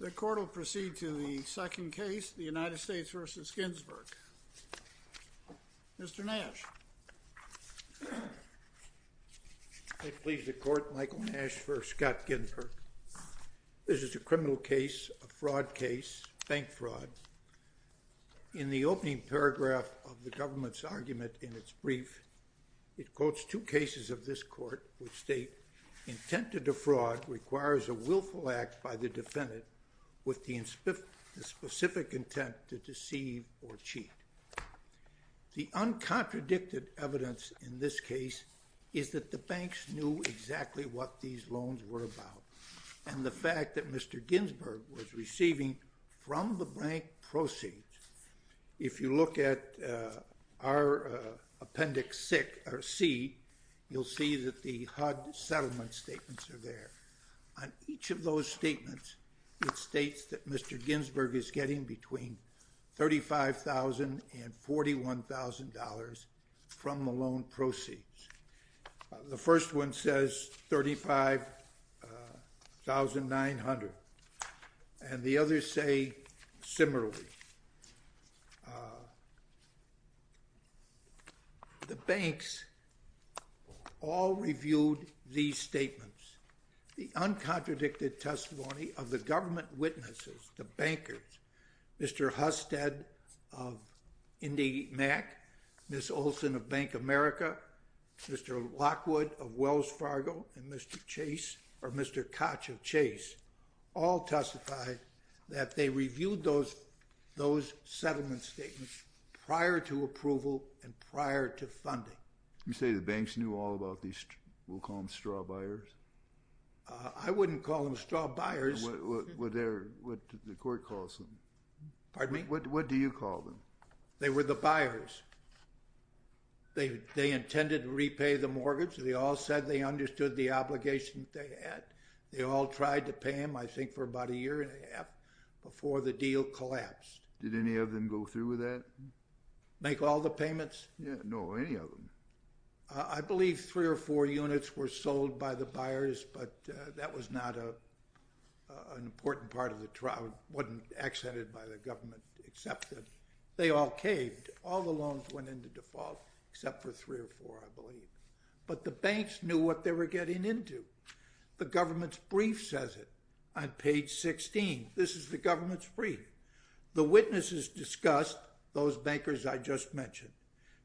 The court will proceed to the second case, the United States v. Ginsberg. Mr. Nash. I please the court, Michael Nash v. Scott Ginsberg. This is a criminal case, a fraud case, bank fraud. In the opening paragraph of the government's argument in its brief, it quotes two cases of this court which state, intent to defraud requires a willful act by the defendant with the specific intent to deceive or cheat. The uncontradicted evidence in this case is that the banks knew exactly what these loans were about, and the fact that Mr. Ginsberg was receiving from the bank proceeds. If you look at our appendix C, you'll see that the HUD settlement statements are there. On each of those statements, it states that Mr. Ginsberg is getting between $35,000 and $41,000 from the loan proceeds. The first one says $35,900, and the others say similarly. The banks all reviewed these statements. The uncontradicted testimony of the government witnesses, the bankers, Mr. Husted of Indy America, Mr. Lockwood of Wells Fargo, and Mr. Chase, or Mr. Koch of Chase, all testified that they reviewed those settlement statements prior to approval and prior to funding. You say the banks knew all about these, we'll call them straw buyers? I wouldn't call them straw buyers. What the court calls them. Pardon me? What do you call them? They were the buyers. They intended to repay the mortgage. They all said they understood the obligations they had. They all tried to pay them, I think, for about a year and a half before the deal collapsed. Did any of them go through with that? Make all the payments? No, any of them. I believe three or four units were sold by the buyers, but that was not an important part of the trial. It wasn't accented by the government, except that they all caved. All the loans went into default, except for three or four, I believe. But the banks knew what they were getting into. The government's brief says it on page 16. This is the government's brief. The witnesses discussed, those bankers I just mentioned,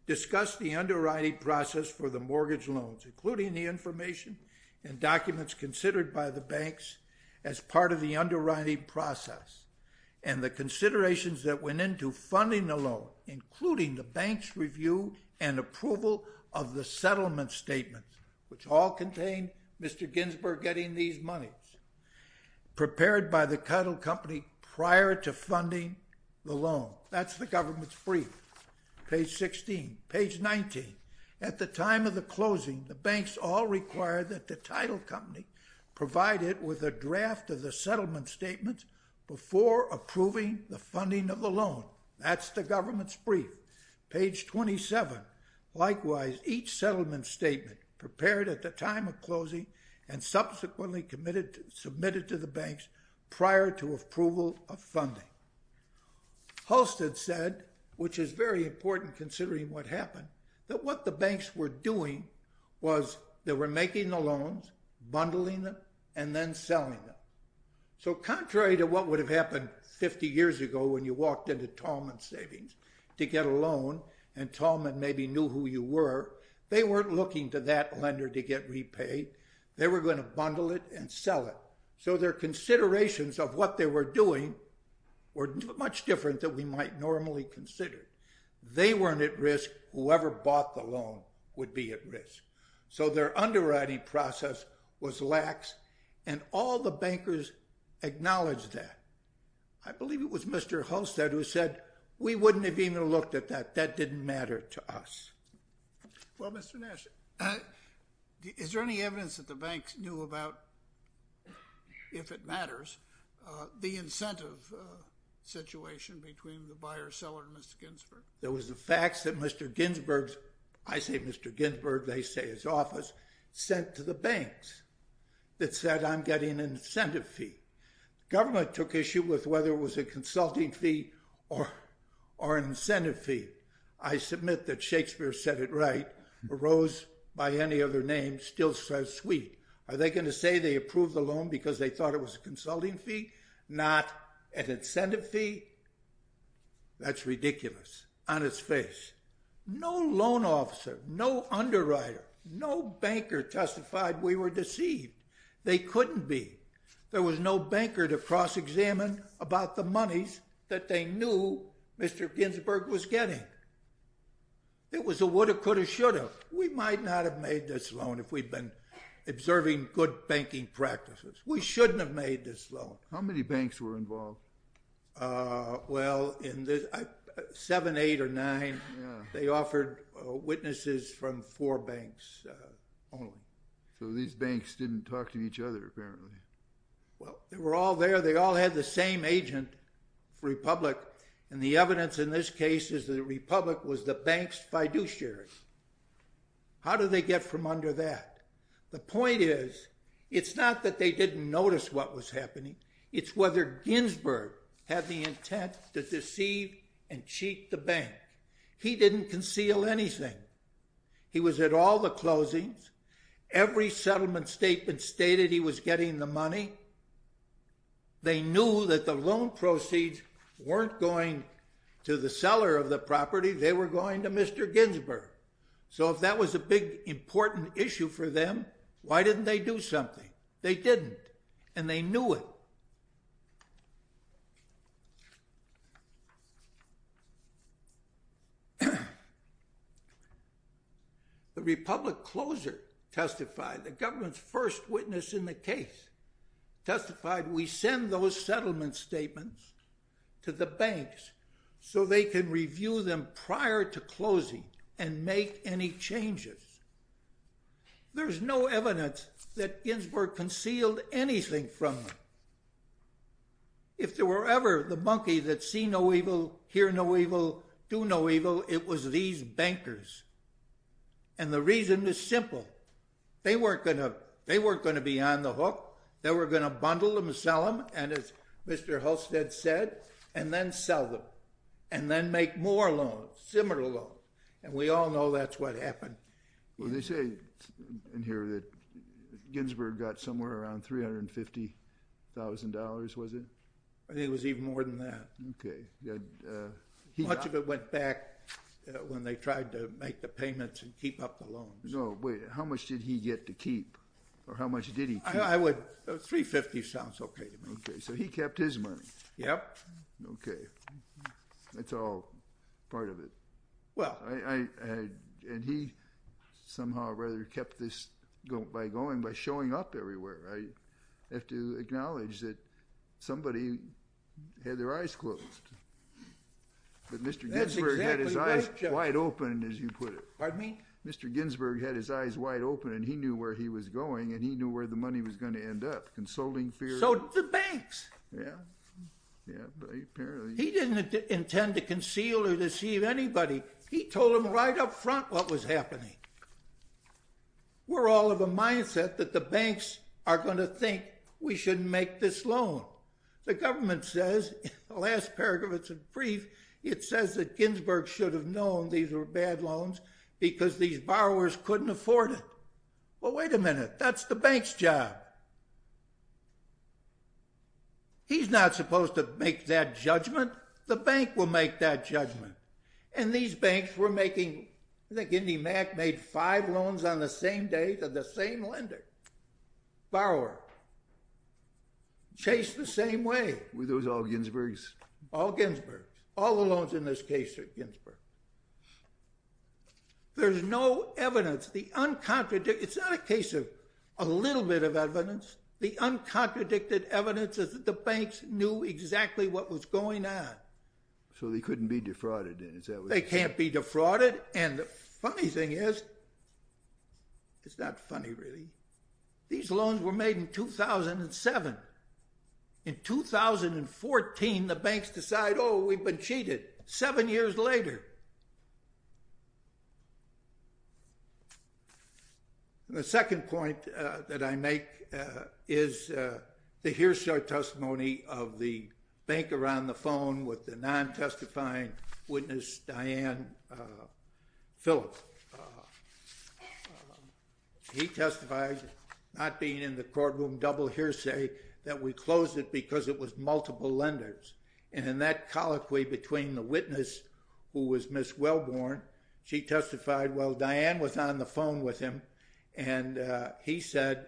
discussed the underwriting process for the mortgage loans, including the information and documents considered by the banks as part of the underwriting process. And the considerations that went into funding the loan, including the bank's review and approval of the settlement statement, which all contained Mr. Ginsburg getting these monies, prepared by the title company prior to funding the loan. That's the government's brief, page 16. Page 19. At the time of the closing, the banks all required that the title company provide it with a draft of the settlement statement before approving the funding of the loan. That's the government's brief, page 27. Likewise, each settlement statement prepared at the time of closing and subsequently submitted to the banks prior to approval of funding. Halstead said, which is very important considering what happened, that what the banks were doing was they were making the loans, bundling them, and then selling them. So contrary to what would have happened 50 years ago when you walked into Tallman Savings to get a loan and Tallman maybe knew who you were, they weren't looking to that lender to get repaid. They were going to bundle it and sell it. So their considerations of what they were doing were much different than we might normally consider. They weren't at risk. Whoever bought the loan would be at risk. So their underwriting process was lax, and all the bankers acknowledged that. I believe it was Mr. Halstead who said, we wouldn't have even looked at that. That didn't matter to us. Well, Mr. Nash, is there any evidence that the banks knew about, if it matters, the incentive situation between the buyer-seller and Mr. Ginsburg? There was a fax that Mr. Ginsburg's, I say Mr. Ginsburg, they say his office, sent to the banks that said, I'm getting an incentive fee. Government took issue with whether it was a consulting fee or an incentive fee. I submit that Shakespeare said it right. A rose by any other name still says sweet. Are they going to say they approved the loan because they thought it was a consulting fee? Not an incentive fee? That's ridiculous, on its face. No loan officer, no underwriter, no banker testified we were deceived. They couldn't be. There was no banker to cross-examine about the monies that they knew Mr. Ginsburg was getting. It was a woulda, coulda, shoulda. We might not have made this loan if we'd been observing good banking practices. We shouldn't have made this loan. How many banks were involved? Well, seven, eight, or nine. They offered witnesses from four banks only. So these banks didn't talk to each other, apparently. Well, they were all there. They all had the same agent for Republic. And the evidence in this case is that Republic was the bank's fiduciary. How did they get from under that? The point is, it's not that they didn't notice what was happening. It's whether Ginsburg had the intent to deceive and cheat the bank. He didn't conceal anything. He was at all the closings. Every settlement statement stated he was getting the money. They knew that the loan proceeds weren't going to the seller of the property. They were going to Mr. Ginsburg. So if that was a big, important issue for them, why didn't they do something? They didn't, and they knew it. The Republic closer testified, the government's first witness in the case, testified, we send those settlement statements to the banks so they can review them prior to closing and make any changes. There's no evidence that Ginsburg concealed anything from them. If there were ever the monkey that see no evil, hear no evil, do no evil, it was these bankers. And the reason is simple. They weren't going to be on the hook. They were going to bundle them and sell them, and as Mr. Hulstead said, and then sell them, and then make more loans, similar loans. And we all know that's what happened. Well, they say in here that Ginsburg got somewhere around $350,000, was it? I think it was even more than that. Okay. Much of it went back when they tried to make the payments and keep up the loans. No, wait, how much did he get to keep, or how much did he keep? $350,000 sounds okay to me. Okay, so he kept his money. Yep. Okay. That's all part of it. And he somehow or other kept this by going, by showing up everywhere. I have to acknowledge that somebody had their eyes closed, but Mr. Ginsburg had his eyes wide open, as you put it. Pardon me? Mr. Ginsburg had his eyes wide open, and he knew where he was going, and he knew where the money was going to end up. So the banks. Yeah. He didn't intend to conceal or deceive anybody. He told them right up front what was happening. We're all of a mindset that the banks are going to think we shouldn't make this loan. The government says, the last paragraph of its brief, it says that Ginsburg should have known these were bad loans because these borrowers couldn't afford it. Well, wait a minute. That's the bank's job. He's not supposed to make that judgment. The bank will make that judgment. And these banks were making, I think IndyMac made five loans on the same day to the same lender, borrower. Chased the same way. Were those all Ginsburg's? All Ginsburg's. All the loans in this case are Ginsburg's. There's no evidence. It's not a case of a little bit of evidence. The uncontradicted evidence is that the banks knew exactly what was going on. So they couldn't be defrauded. They can't be defrauded. And the funny thing is, it's not funny really. These loans were made in 2007. In 2014, the banks decide, oh, we've been cheated. Seven years later. The second point that I make is the hearsay testimony of the banker on the phone with the non-testifying witness, Diane Phillips. He testified, not being in the courtroom, double hearsay, that we closed it because it was multiple lenders. And in that colloquy between the witness, who was Ms. Wellborn, she testified, well, Diane was on the phone with him, and he said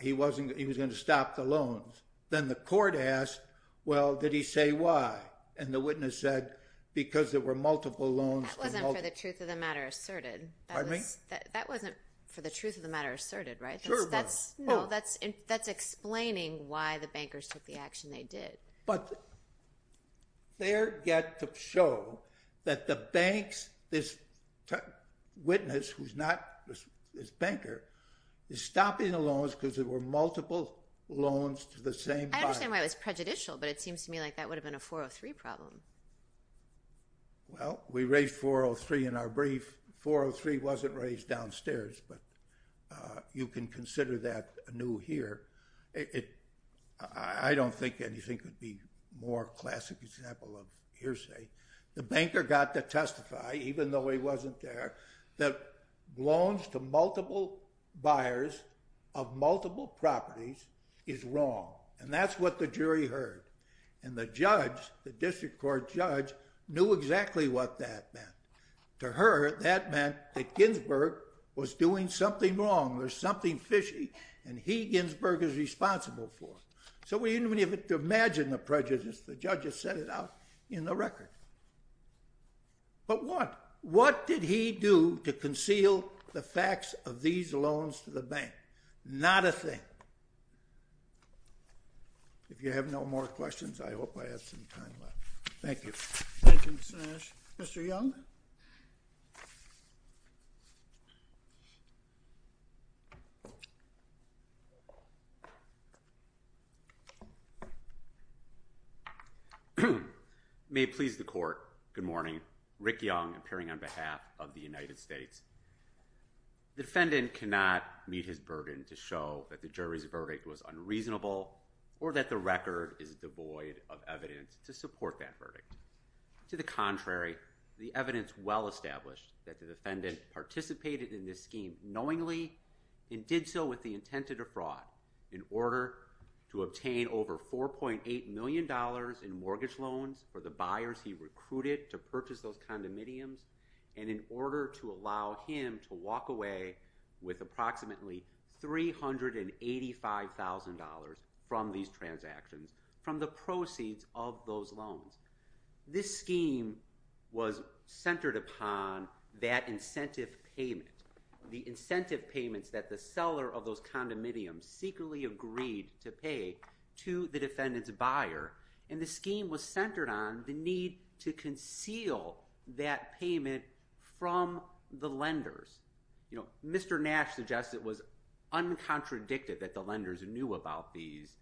he was going to stop the loans. Then the court asked, well, did he say why? And the witness said, because there were multiple loans. That wasn't for the truth of the matter asserted. Pardon me? That wasn't for the truth of the matter asserted, right? Sure was. No, that's explaining why the bankers took the action they did. But they're yet to show that the banks, this witness, who's not this banker, is stopping the loans because there were multiple loans to the same client. I understand why it was prejudicial, but it seems to me like that would have been a 403 problem. Well, we raised 403 in our brief. 403 wasn't raised downstairs, but you can consider that anew here. I don't think anything could be a more classic example of hearsay. The banker got to testify, even though he wasn't there, that loans to multiple buyers of multiple properties is wrong, and that's what the jury heard. And the judge, the district court judge, knew exactly what that meant. To her, that meant that Ginsburg was doing something wrong or something fishy, and he, Ginsburg, is responsible for it. So we didn't even have to imagine the prejudice. The judge has set it out in the record. But what? What did he do to conceal the facts of these loans to the bank? Not a thing. If you have no more questions, I hope I have some time left. Thank you. Thank you, Mr. Nash. Mr. Young? May it please the court, good morning. Rick Young, appearing on behalf of the United States. The defendant cannot meet his burden to show that the jury's verdict was unreasonable or that the record is devoid of evidence to support that verdict. The defendant participated in this scheme knowingly and did so with the intent to defraud in order to obtain over $4.8 million in mortgage loans for the buyers he recruited to purchase those condominiums and in order to allow him to walk away with approximately $385,000 from these transactions from the proceeds of those loans. This scheme was centered upon that incentive payment, the incentive payments that the seller of those condominiums secretly agreed to pay to the defendant's buyer, and the scheme was centered on the need to conceal that payment from the lenders. Mr. Nash suggests it was uncontradicted that the lenders knew about these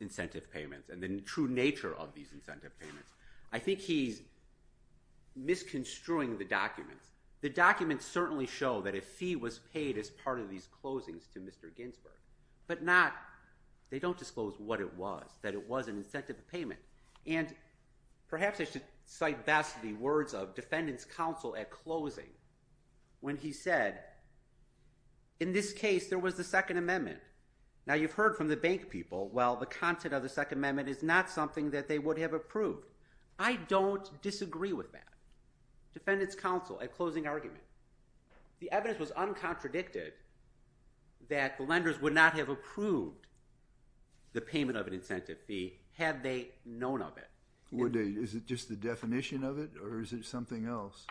incentive payments and the true nature of these incentive payments. I think he's misconstruing the documents. The documents certainly show that a fee was paid as part of these closings to Mr. Ginsberg, but they don't disclose what it was, that it was an incentive payment. And perhaps I should cite best the words of defendant's counsel at closing when he said, in this case, there was the Second Amendment. Now, you've heard from the bank people, well, the content of the Second Amendment is not something that they would have approved. I don't disagree with that. Defendant's counsel at closing argument. The evidence was uncontradicted that the lenders would not have approved the payment of an incentive fee had they known of it. Is it just the definition of it or is it something else?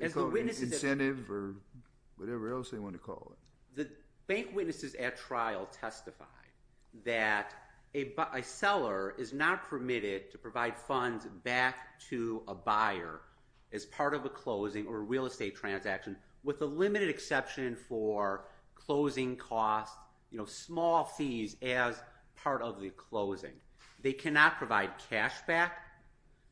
Incentive or whatever else they want to call it. The bank witnesses at trial testified that a seller is not permitted to provide funds back to a buyer as part of a closing or real estate transaction with a limited exception for closing costs, small fees as part of the closing. They cannot provide cash back.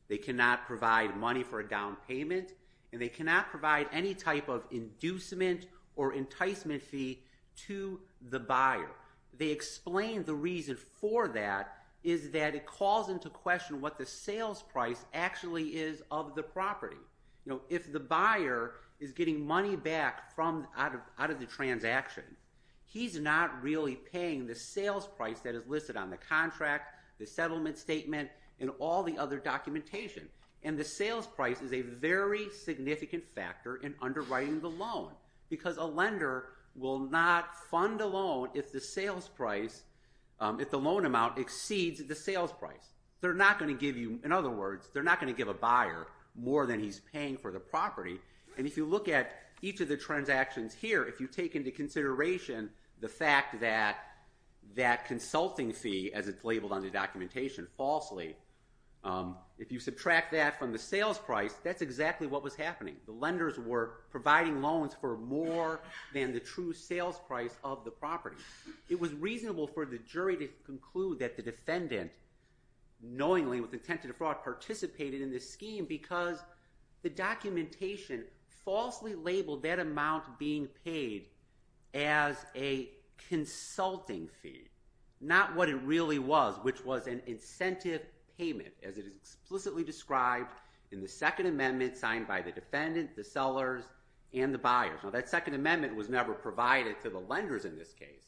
They cannot provide money for a down payment. And they cannot provide any type of inducement or enticement fee to the buyer. They explained the reason for that is that it calls into question what the sales price actually is of the property. If the buyer is getting money back out of the transaction, he's not really paying the sales price that is listed on the contract the settlement statement and all the other documentation. And the sales price is a very significant factor in underwriting the loan because a lender will not fund a loan if the sales price, if the loan amount exceeds the sales price. They're not going to give you, in other words, they're not going to give a buyer more than he's paying for the property. And if you look at each of the transactions here, if you take into consideration the fact that that consulting fee, as it's labeled on the documentation, falsely, if you subtract that from the sales price, that's exactly what was happening. The lenders were providing loans for more than the true sales price of the property. It was reasonable for the jury to conclude that the defendant, knowingly with intent to defraud, participated in this scheme because the documentation falsely labeled that amount being paid as a consulting fee, not what it really was, which was an incentive payment, as it is explicitly described in the Second Amendment, signed by the defendant, the sellers, and the buyers. Now, that Second Amendment was never provided to the lenders in this case.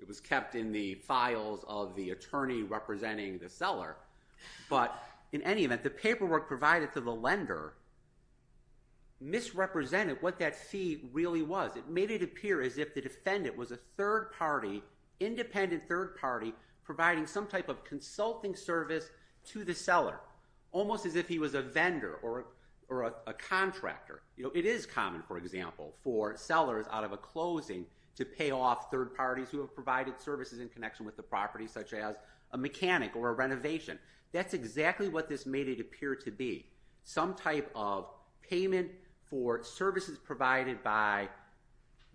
It was kept in the files of the attorney representing the seller. But in any event, the paperwork provided to the lender misrepresented what that fee really was. It made it appear as if the defendant was a third party, independent third party, providing some type of consulting service to the seller, almost as if he was a vendor or a contractor. It is common, for example, for sellers out of a closing to pay off third parties who have provided services in connection with the property, such as a mechanic or a renovation. That's exactly what this made it appear to be, some type of payment for services provided by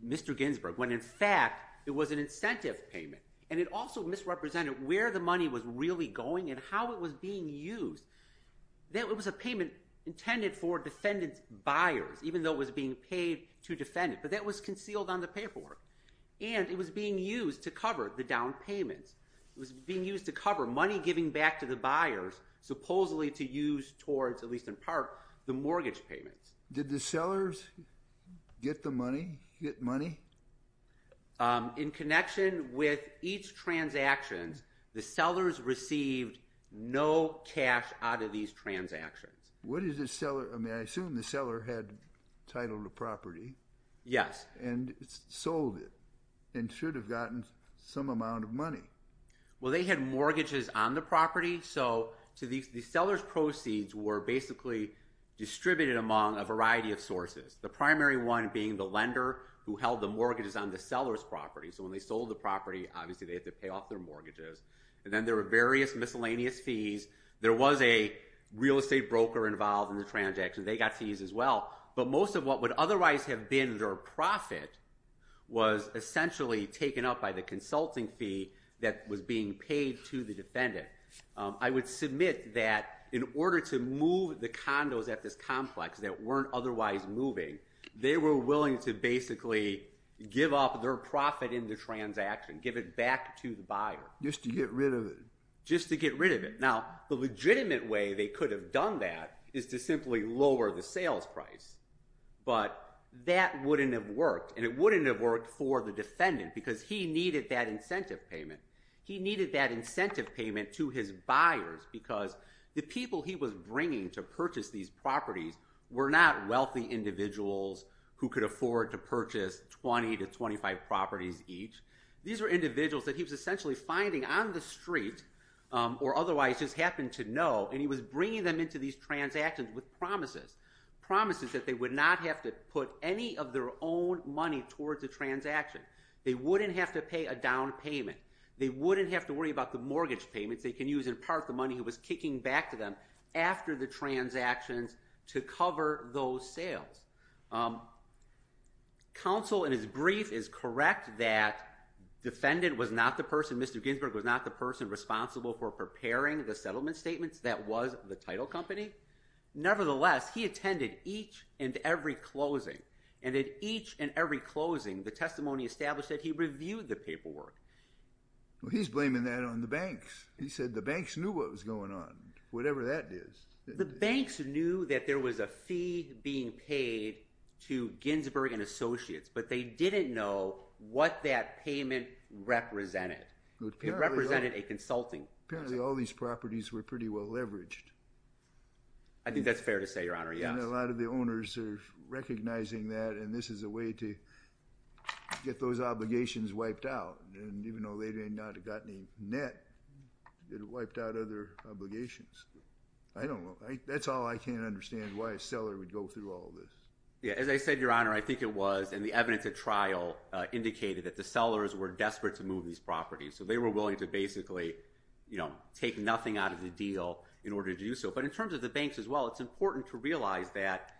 Mr. Ginsburg, when in fact it was an incentive payment. And it also misrepresented where the money was really going and how it was being used. It was a payment intended for defendant's buyers, even though it was being paid to defend it. But that was concealed on the paperwork. And it was being used to cover the down payments. It was being used to cover money given back to the buyers, supposedly to use towards, at least in part, the mortgage payments. Did the sellers get the money, get money? In connection with each transaction, the sellers received no cash out of these transactions. What is the seller? I mean, I assume the seller had titled the property. Yes. And sold it and should have gotten some amount of money. Well, they had mortgages on the property. So the seller's proceeds were basically distributed among a variety of sources, the primary one being the lender who held the mortgages on the seller's property. So when they sold the property, obviously they had to pay off their mortgages. And then there were various miscellaneous fees. There was a real estate broker involved in the transaction. They got fees as well. But most of what would otherwise have been their profit was essentially taken up by the consulting fee that was being paid to the defendant. I would submit that in order to move the condos at this complex that weren't otherwise moving, they were willing to basically give up their profit in the transaction, give it back to the buyer. Just to get rid of it. Just to get rid of it. Now, the legitimate way they could have done that is to simply lower the sales price. But that wouldn't have worked. And it wouldn't have worked for the defendant because he needed that incentive payment. He needed that incentive payment to his buyers because the people he was bringing to purchase these properties were not wealthy individuals who could afford to purchase 20 to 25 properties each. These were individuals that he was essentially finding on the street and he was bringing them into these transactions with promises. Promises that they would not have to put any of their own money towards the transaction. They wouldn't have to pay a down payment. They wouldn't have to worry about the mortgage payments they can use in part the money he was kicking back to them after the transactions to cover those sales. Counsel in his brief is correct that the defendant was not the person, Mr. Ginsberg, was not the person responsible for preparing the settlement statements. That was the title company. Nevertheless, he attended each and every closing. And at each and every closing, the testimony established that he reviewed the paperwork. He's blaming that on the banks. He said the banks knew what was going on. Whatever that is. The banks knew that there was a fee being paid to Ginsberg and Associates, but they didn't know what that payment represented. It represented a consulting. Apparently all these properties were pretty well leveraged. I think that's fair to say, Your Honor, yes. And a lot of the owners are recognizing that and this is a way to get those obligations wiped out. And even though they may not have got any net, it wiped out other obligations. I don't know. That's all I can understand why a seller would go through all this. Yeah, as I said, Your Honor, I think it was, and the evidence at trial indicated that the sellers were desperate to move these properties. So they were willing to basically, you know, take nothing out of the deal in order to do so. But in terms of the banks as well, it's important to realize that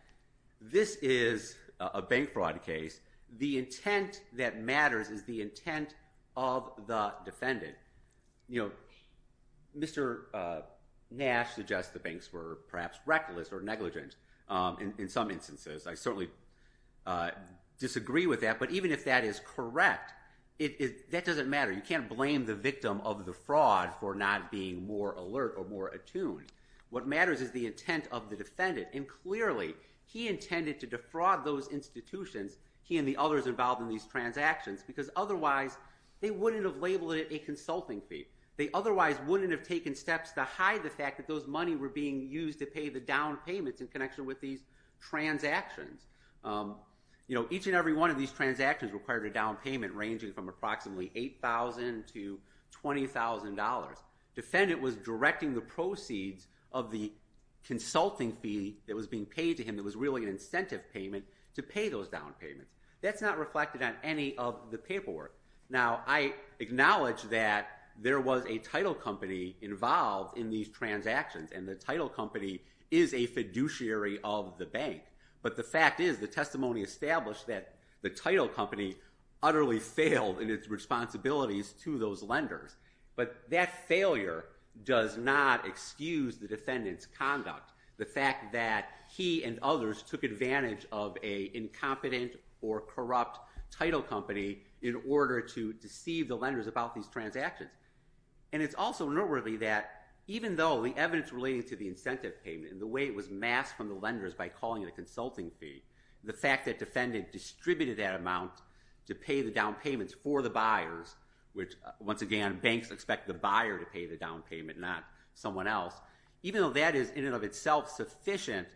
this is a bank fraud case. The intent that matters is the intent of the defendant. You know, Mr. Nash suggests the banks were perhaps reckless or negligent in some instances. I certainly disagree with that, but even if that is correct, that doesn't matter. You can't blame the victim of the fraud for not being more alert or more attuned. What matters is the intent of the defendant, and clearly he intended to defraud those institutions, he and the others involved in these transactions, because otherwise they wouldn't have labeled it a consulting fee. They otherwise wouldn't have taken steps to hide the fact that those money were being used to pay the down payments in connection with these transactions. You know, each and every one of these transactions required a down payment ranging from approximately $8,000 to $20,000. The defendant was directing the proceeds of the consulting fee that was being paid to him that was really an incentive payment to pay those down payments. That's not reflected on any of the paperwork. Now, I acknowledge that there was a title company involved in these transactions, and the title company is a fiduciary of the bank, but the fact is the testimony established that the title company utterly failed in its responsibilities to those lenders. But that failure does not excuse the defendant's conduct, the fact that he and others took advantage of an incompetent or corrupt title company in order to deceive the lenders about these transactions. And it's also noteworthy that even though the evidence relating to the incentive payment and the way it was masked from the lenders by calling it a consulting fee, the fact that the defendant distributed that amount to pay the down payments for the buyers, which once again banks expect the buyer to pay the down payment, not someone else, even though that is in and of itself sufficient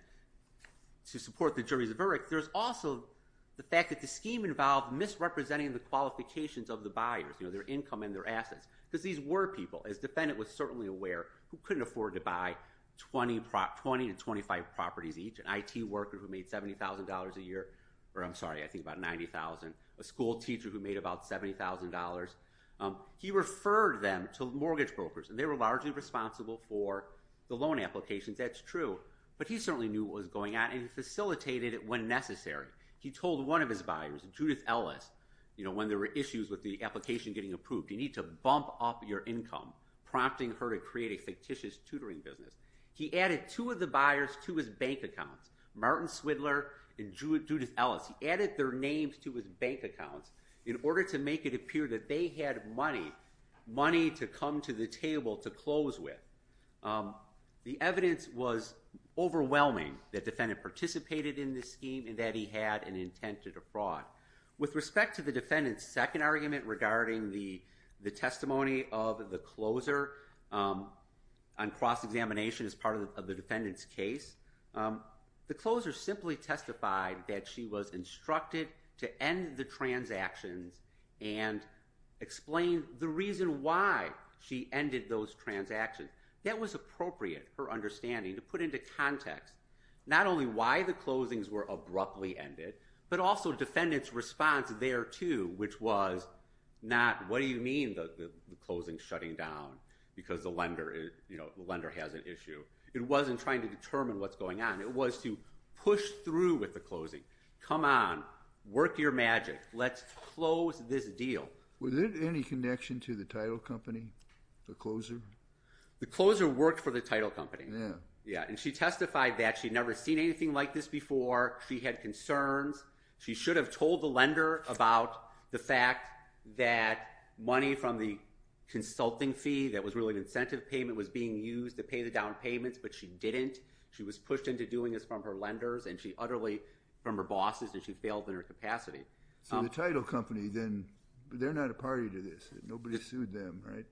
to support the jury's verdict, there's also the fact that the scheme involved misrepresenting the qualifications of the buyers, their income and their assets, because these were people, as the defendant was certainly aware, who couldn't afford to buy 20 to 25 properties each, an IT worker who made $70,000 a year, or I'm sorry, I think about $90,000, a school teacher who made about $70,000. He referred them to mortgage brokers, and they were largely responsible for the loan applications, that's true, but he certainly knew what was going on and he facilitated it when necessary. He told one of his buyers, Judith Ellis, when there were issues with the application getting approved, you need to bump up your income, prompting her to create a fictitious tutoring business. He added two of the buyers to his bank accounts, Martin Swidler and Judith Ellis, he added their names to his bank accounts in order to make it appear that they had money, money to come to the table to close with. The evidence was overwhelming that the defendant participated in this scheme and that he had an intent to defraud. With respect to the defendant's second argument regarding the testimony of the closer on cross-examination as part of the defendant's case, the closer simply testified that she was instructed to end the transactions and explain the reason why she ended those transactions. That was appropriate for understanding, to put into context, not only why the closings were abruptly ended, but also defendant's response there too, which was not, what do you mean the closing's shutting down because the lender has an issue? It wasn't trying to determine what's going on. It was to push through with the closing. Come on, work your magic. Let's close this deal. Was there any connection to the title company, the closer? The closer worked for the title company. Yeah. Yeah, and she testified that she'd never seen anything like this before. She had concerns. She should have told the lender about the fact that money from the consulting fee that was really an incentive payment was being used to pay the down payments, but she didn't. She was pushed into doing this from her lenders and utterly from her bosses, and she failed in her capacity. The title company, then, they're not a party to this. Nobody sued them, right?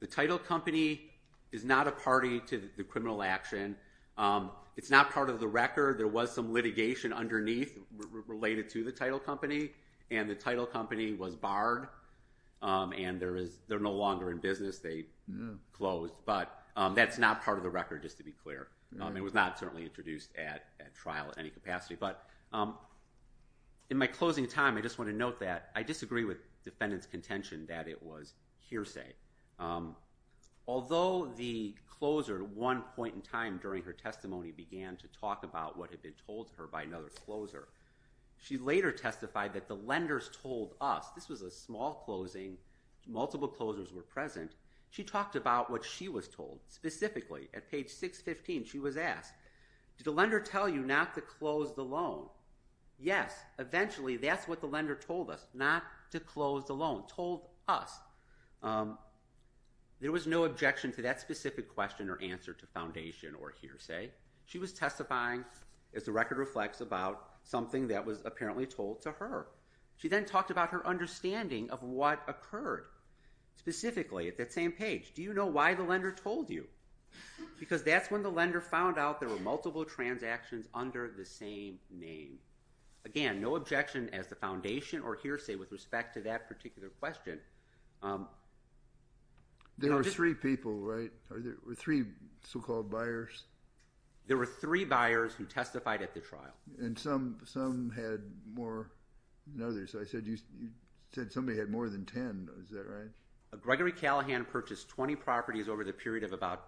The title company is not a party to the criminal action. It's not part of the record. There was some litigation underneath related to the title company, and the title company was barred, and they're no longer in business. They closed, but that's not part of the record, just to be clear. It was not certainly introduced at trial in any capacity, but in my closing time, I just want to note that I disagree with defendant's contention that it was hearsay. Although the closer, at one point in time during her testimony, began to talk about what had been told to her by another closer, she later testified that the lenders told us. This was a small closing. Multiple closers were present. She talked about what she was told. Specifically, at page 615, she was asked, did the lender tell you not to close the loan? Yes. Eventually, that's what the lender told us, not to close the loan, told us. There was no objection to that specific question or answer to foundation or hearsay. She was testifying, as the record reflects, about something that was apparently told to her. She then talked about her understanding of what occurred. Specifically, at that same page, do you know why the lender told you? Because that's when the lender found out there were multiple transactions under the same name. Again, no objection as the foundation or hearsay with respect to that particular question. There were three people, right? Three so-called buyers? There were three buyers who testified at the trial. Some had more than others. I said somebody had more than 10. Is that right? Gregory Callahan purchased 20 properties over the period of about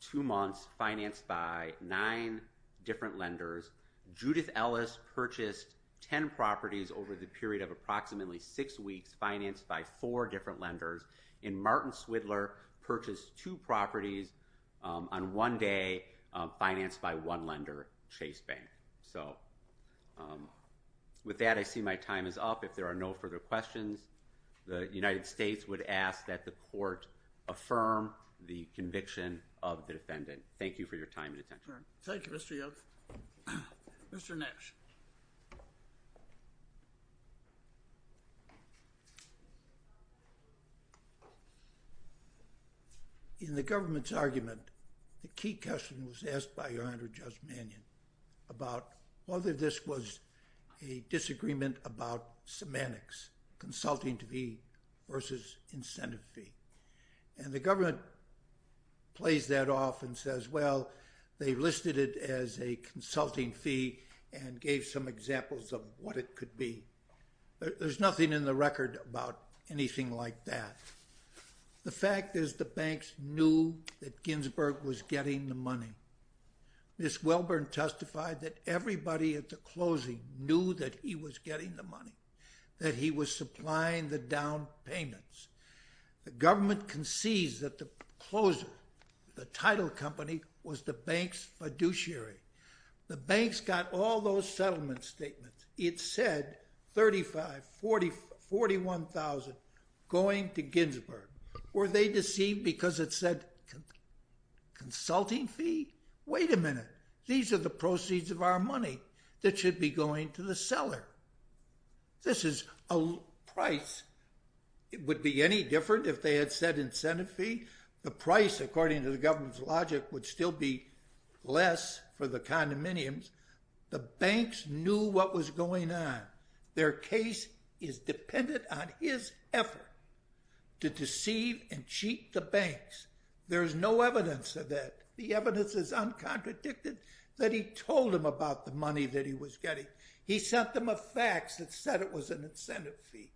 two months, financed by nine different lenders. Judith Ellis purchased 10 properties over the period of approximately six weeks, financed by four different lenders. And Martin Swidler purchased two properties on one day, financed by one lender, Chase Bank. So with that, I see my time is up. If there are no further questions, the United States would ask that the court affirm the conviction of the defendant. Thank you for your time and attention. Thank you, Mr. Yost. Mr. Nash. In the government's argument, a key question was asked by Your Honor Judge Mannion about whether this was a disagreement about semantics, consulting to be versus incentive fee. And the government plays that off and says, well, they listed it as a consulting fee and gave some examples of what it could be. There's nothing in the record about anything like that. The fact is the banks knew that Ginsburg was getting the money. Ms. Welburn testified that everybody at the closing knew that he was getting the money, that he was supplying the down payments. The government concedes that the closer, the title company, was the bank's fiduciary. The banks got all those settlement statements. It said $35,000, $41,000 going to Ginsburg. Were they deceived because it said consulting fee? Wait a minute. These are the proceeds of our money that should be going to the seller. This is a price. It would be any different if they had said incentive fee. The price, according to the government's logic, would still be less for the condominiums. The banks knew what was going on. Their case is dependent on his effort to deceive and cheat the banks. There's no evidence of that. The evidence is uncontradicted that he told them about the money that he was getting. He sent them a fax that said it was an incentive fee.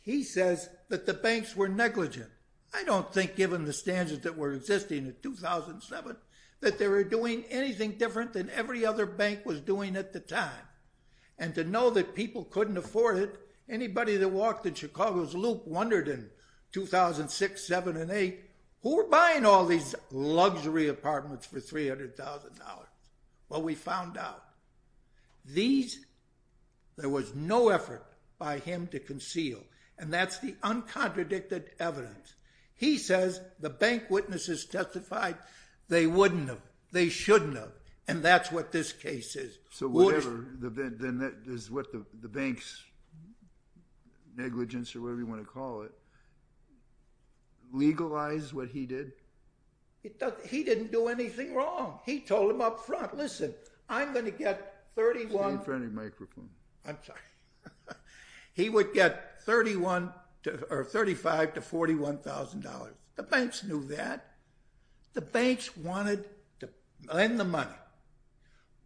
He says that the banks were negligent. I don't think, given the standards that were existing in 2007, that they were doing anything different than every other bank was doing at the time. And to know that people couldn't afford it, anybody that walked in Chicago's Loop wondered in 2006, 2007, and 2008, who were buying all these luxury apartments for $300,000? Well, we found out. There was no effort by him to conceal, and that's the uncontradicted evidence. He says the bank witnesses testified they wouldn't have, they shouldn't have, and that's what this case is. So whatever, then that is what the banks' negligence, or whatever you want to call it, legalized what he did? He didn't do anything wrong. He told them up front, listen, I'm going to get $31,000. I'm sorry. He would get $35,000 to $41,000. The banks knew that. The banks wanted to lend the money,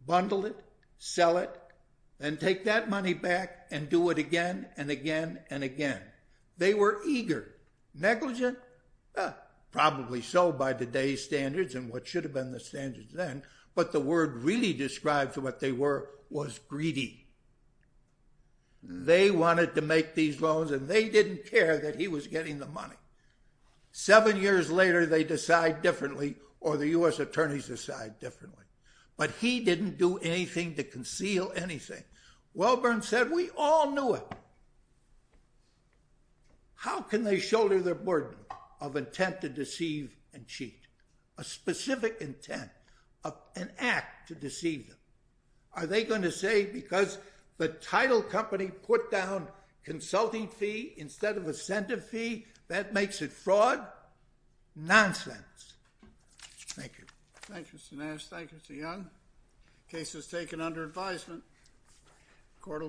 bundle it, sell it, then take that money back and do it again and again and again. They were eager. Negligent? Probably so by today's standards and what should have been the standards then, but the word really describes what they were, was greedy. They wanted to make these loans, and they didn't care that he was getting the money. Seven years later, they decide differently, or the U.S. attorneys decide differently. But he didn't do anything to conceal anything. Welburn said we all knew it. How can they shoulder the burden of intent to deceive and cheat? A specific intent, an act to deceive them. Are they going to say because the title company put down consulting fee instead of incentive fee, that makes it fraud? Nonsense. Thank you. Thank you, Mr. Nash. Thank you, Mr. Young. Case is taken under advisement.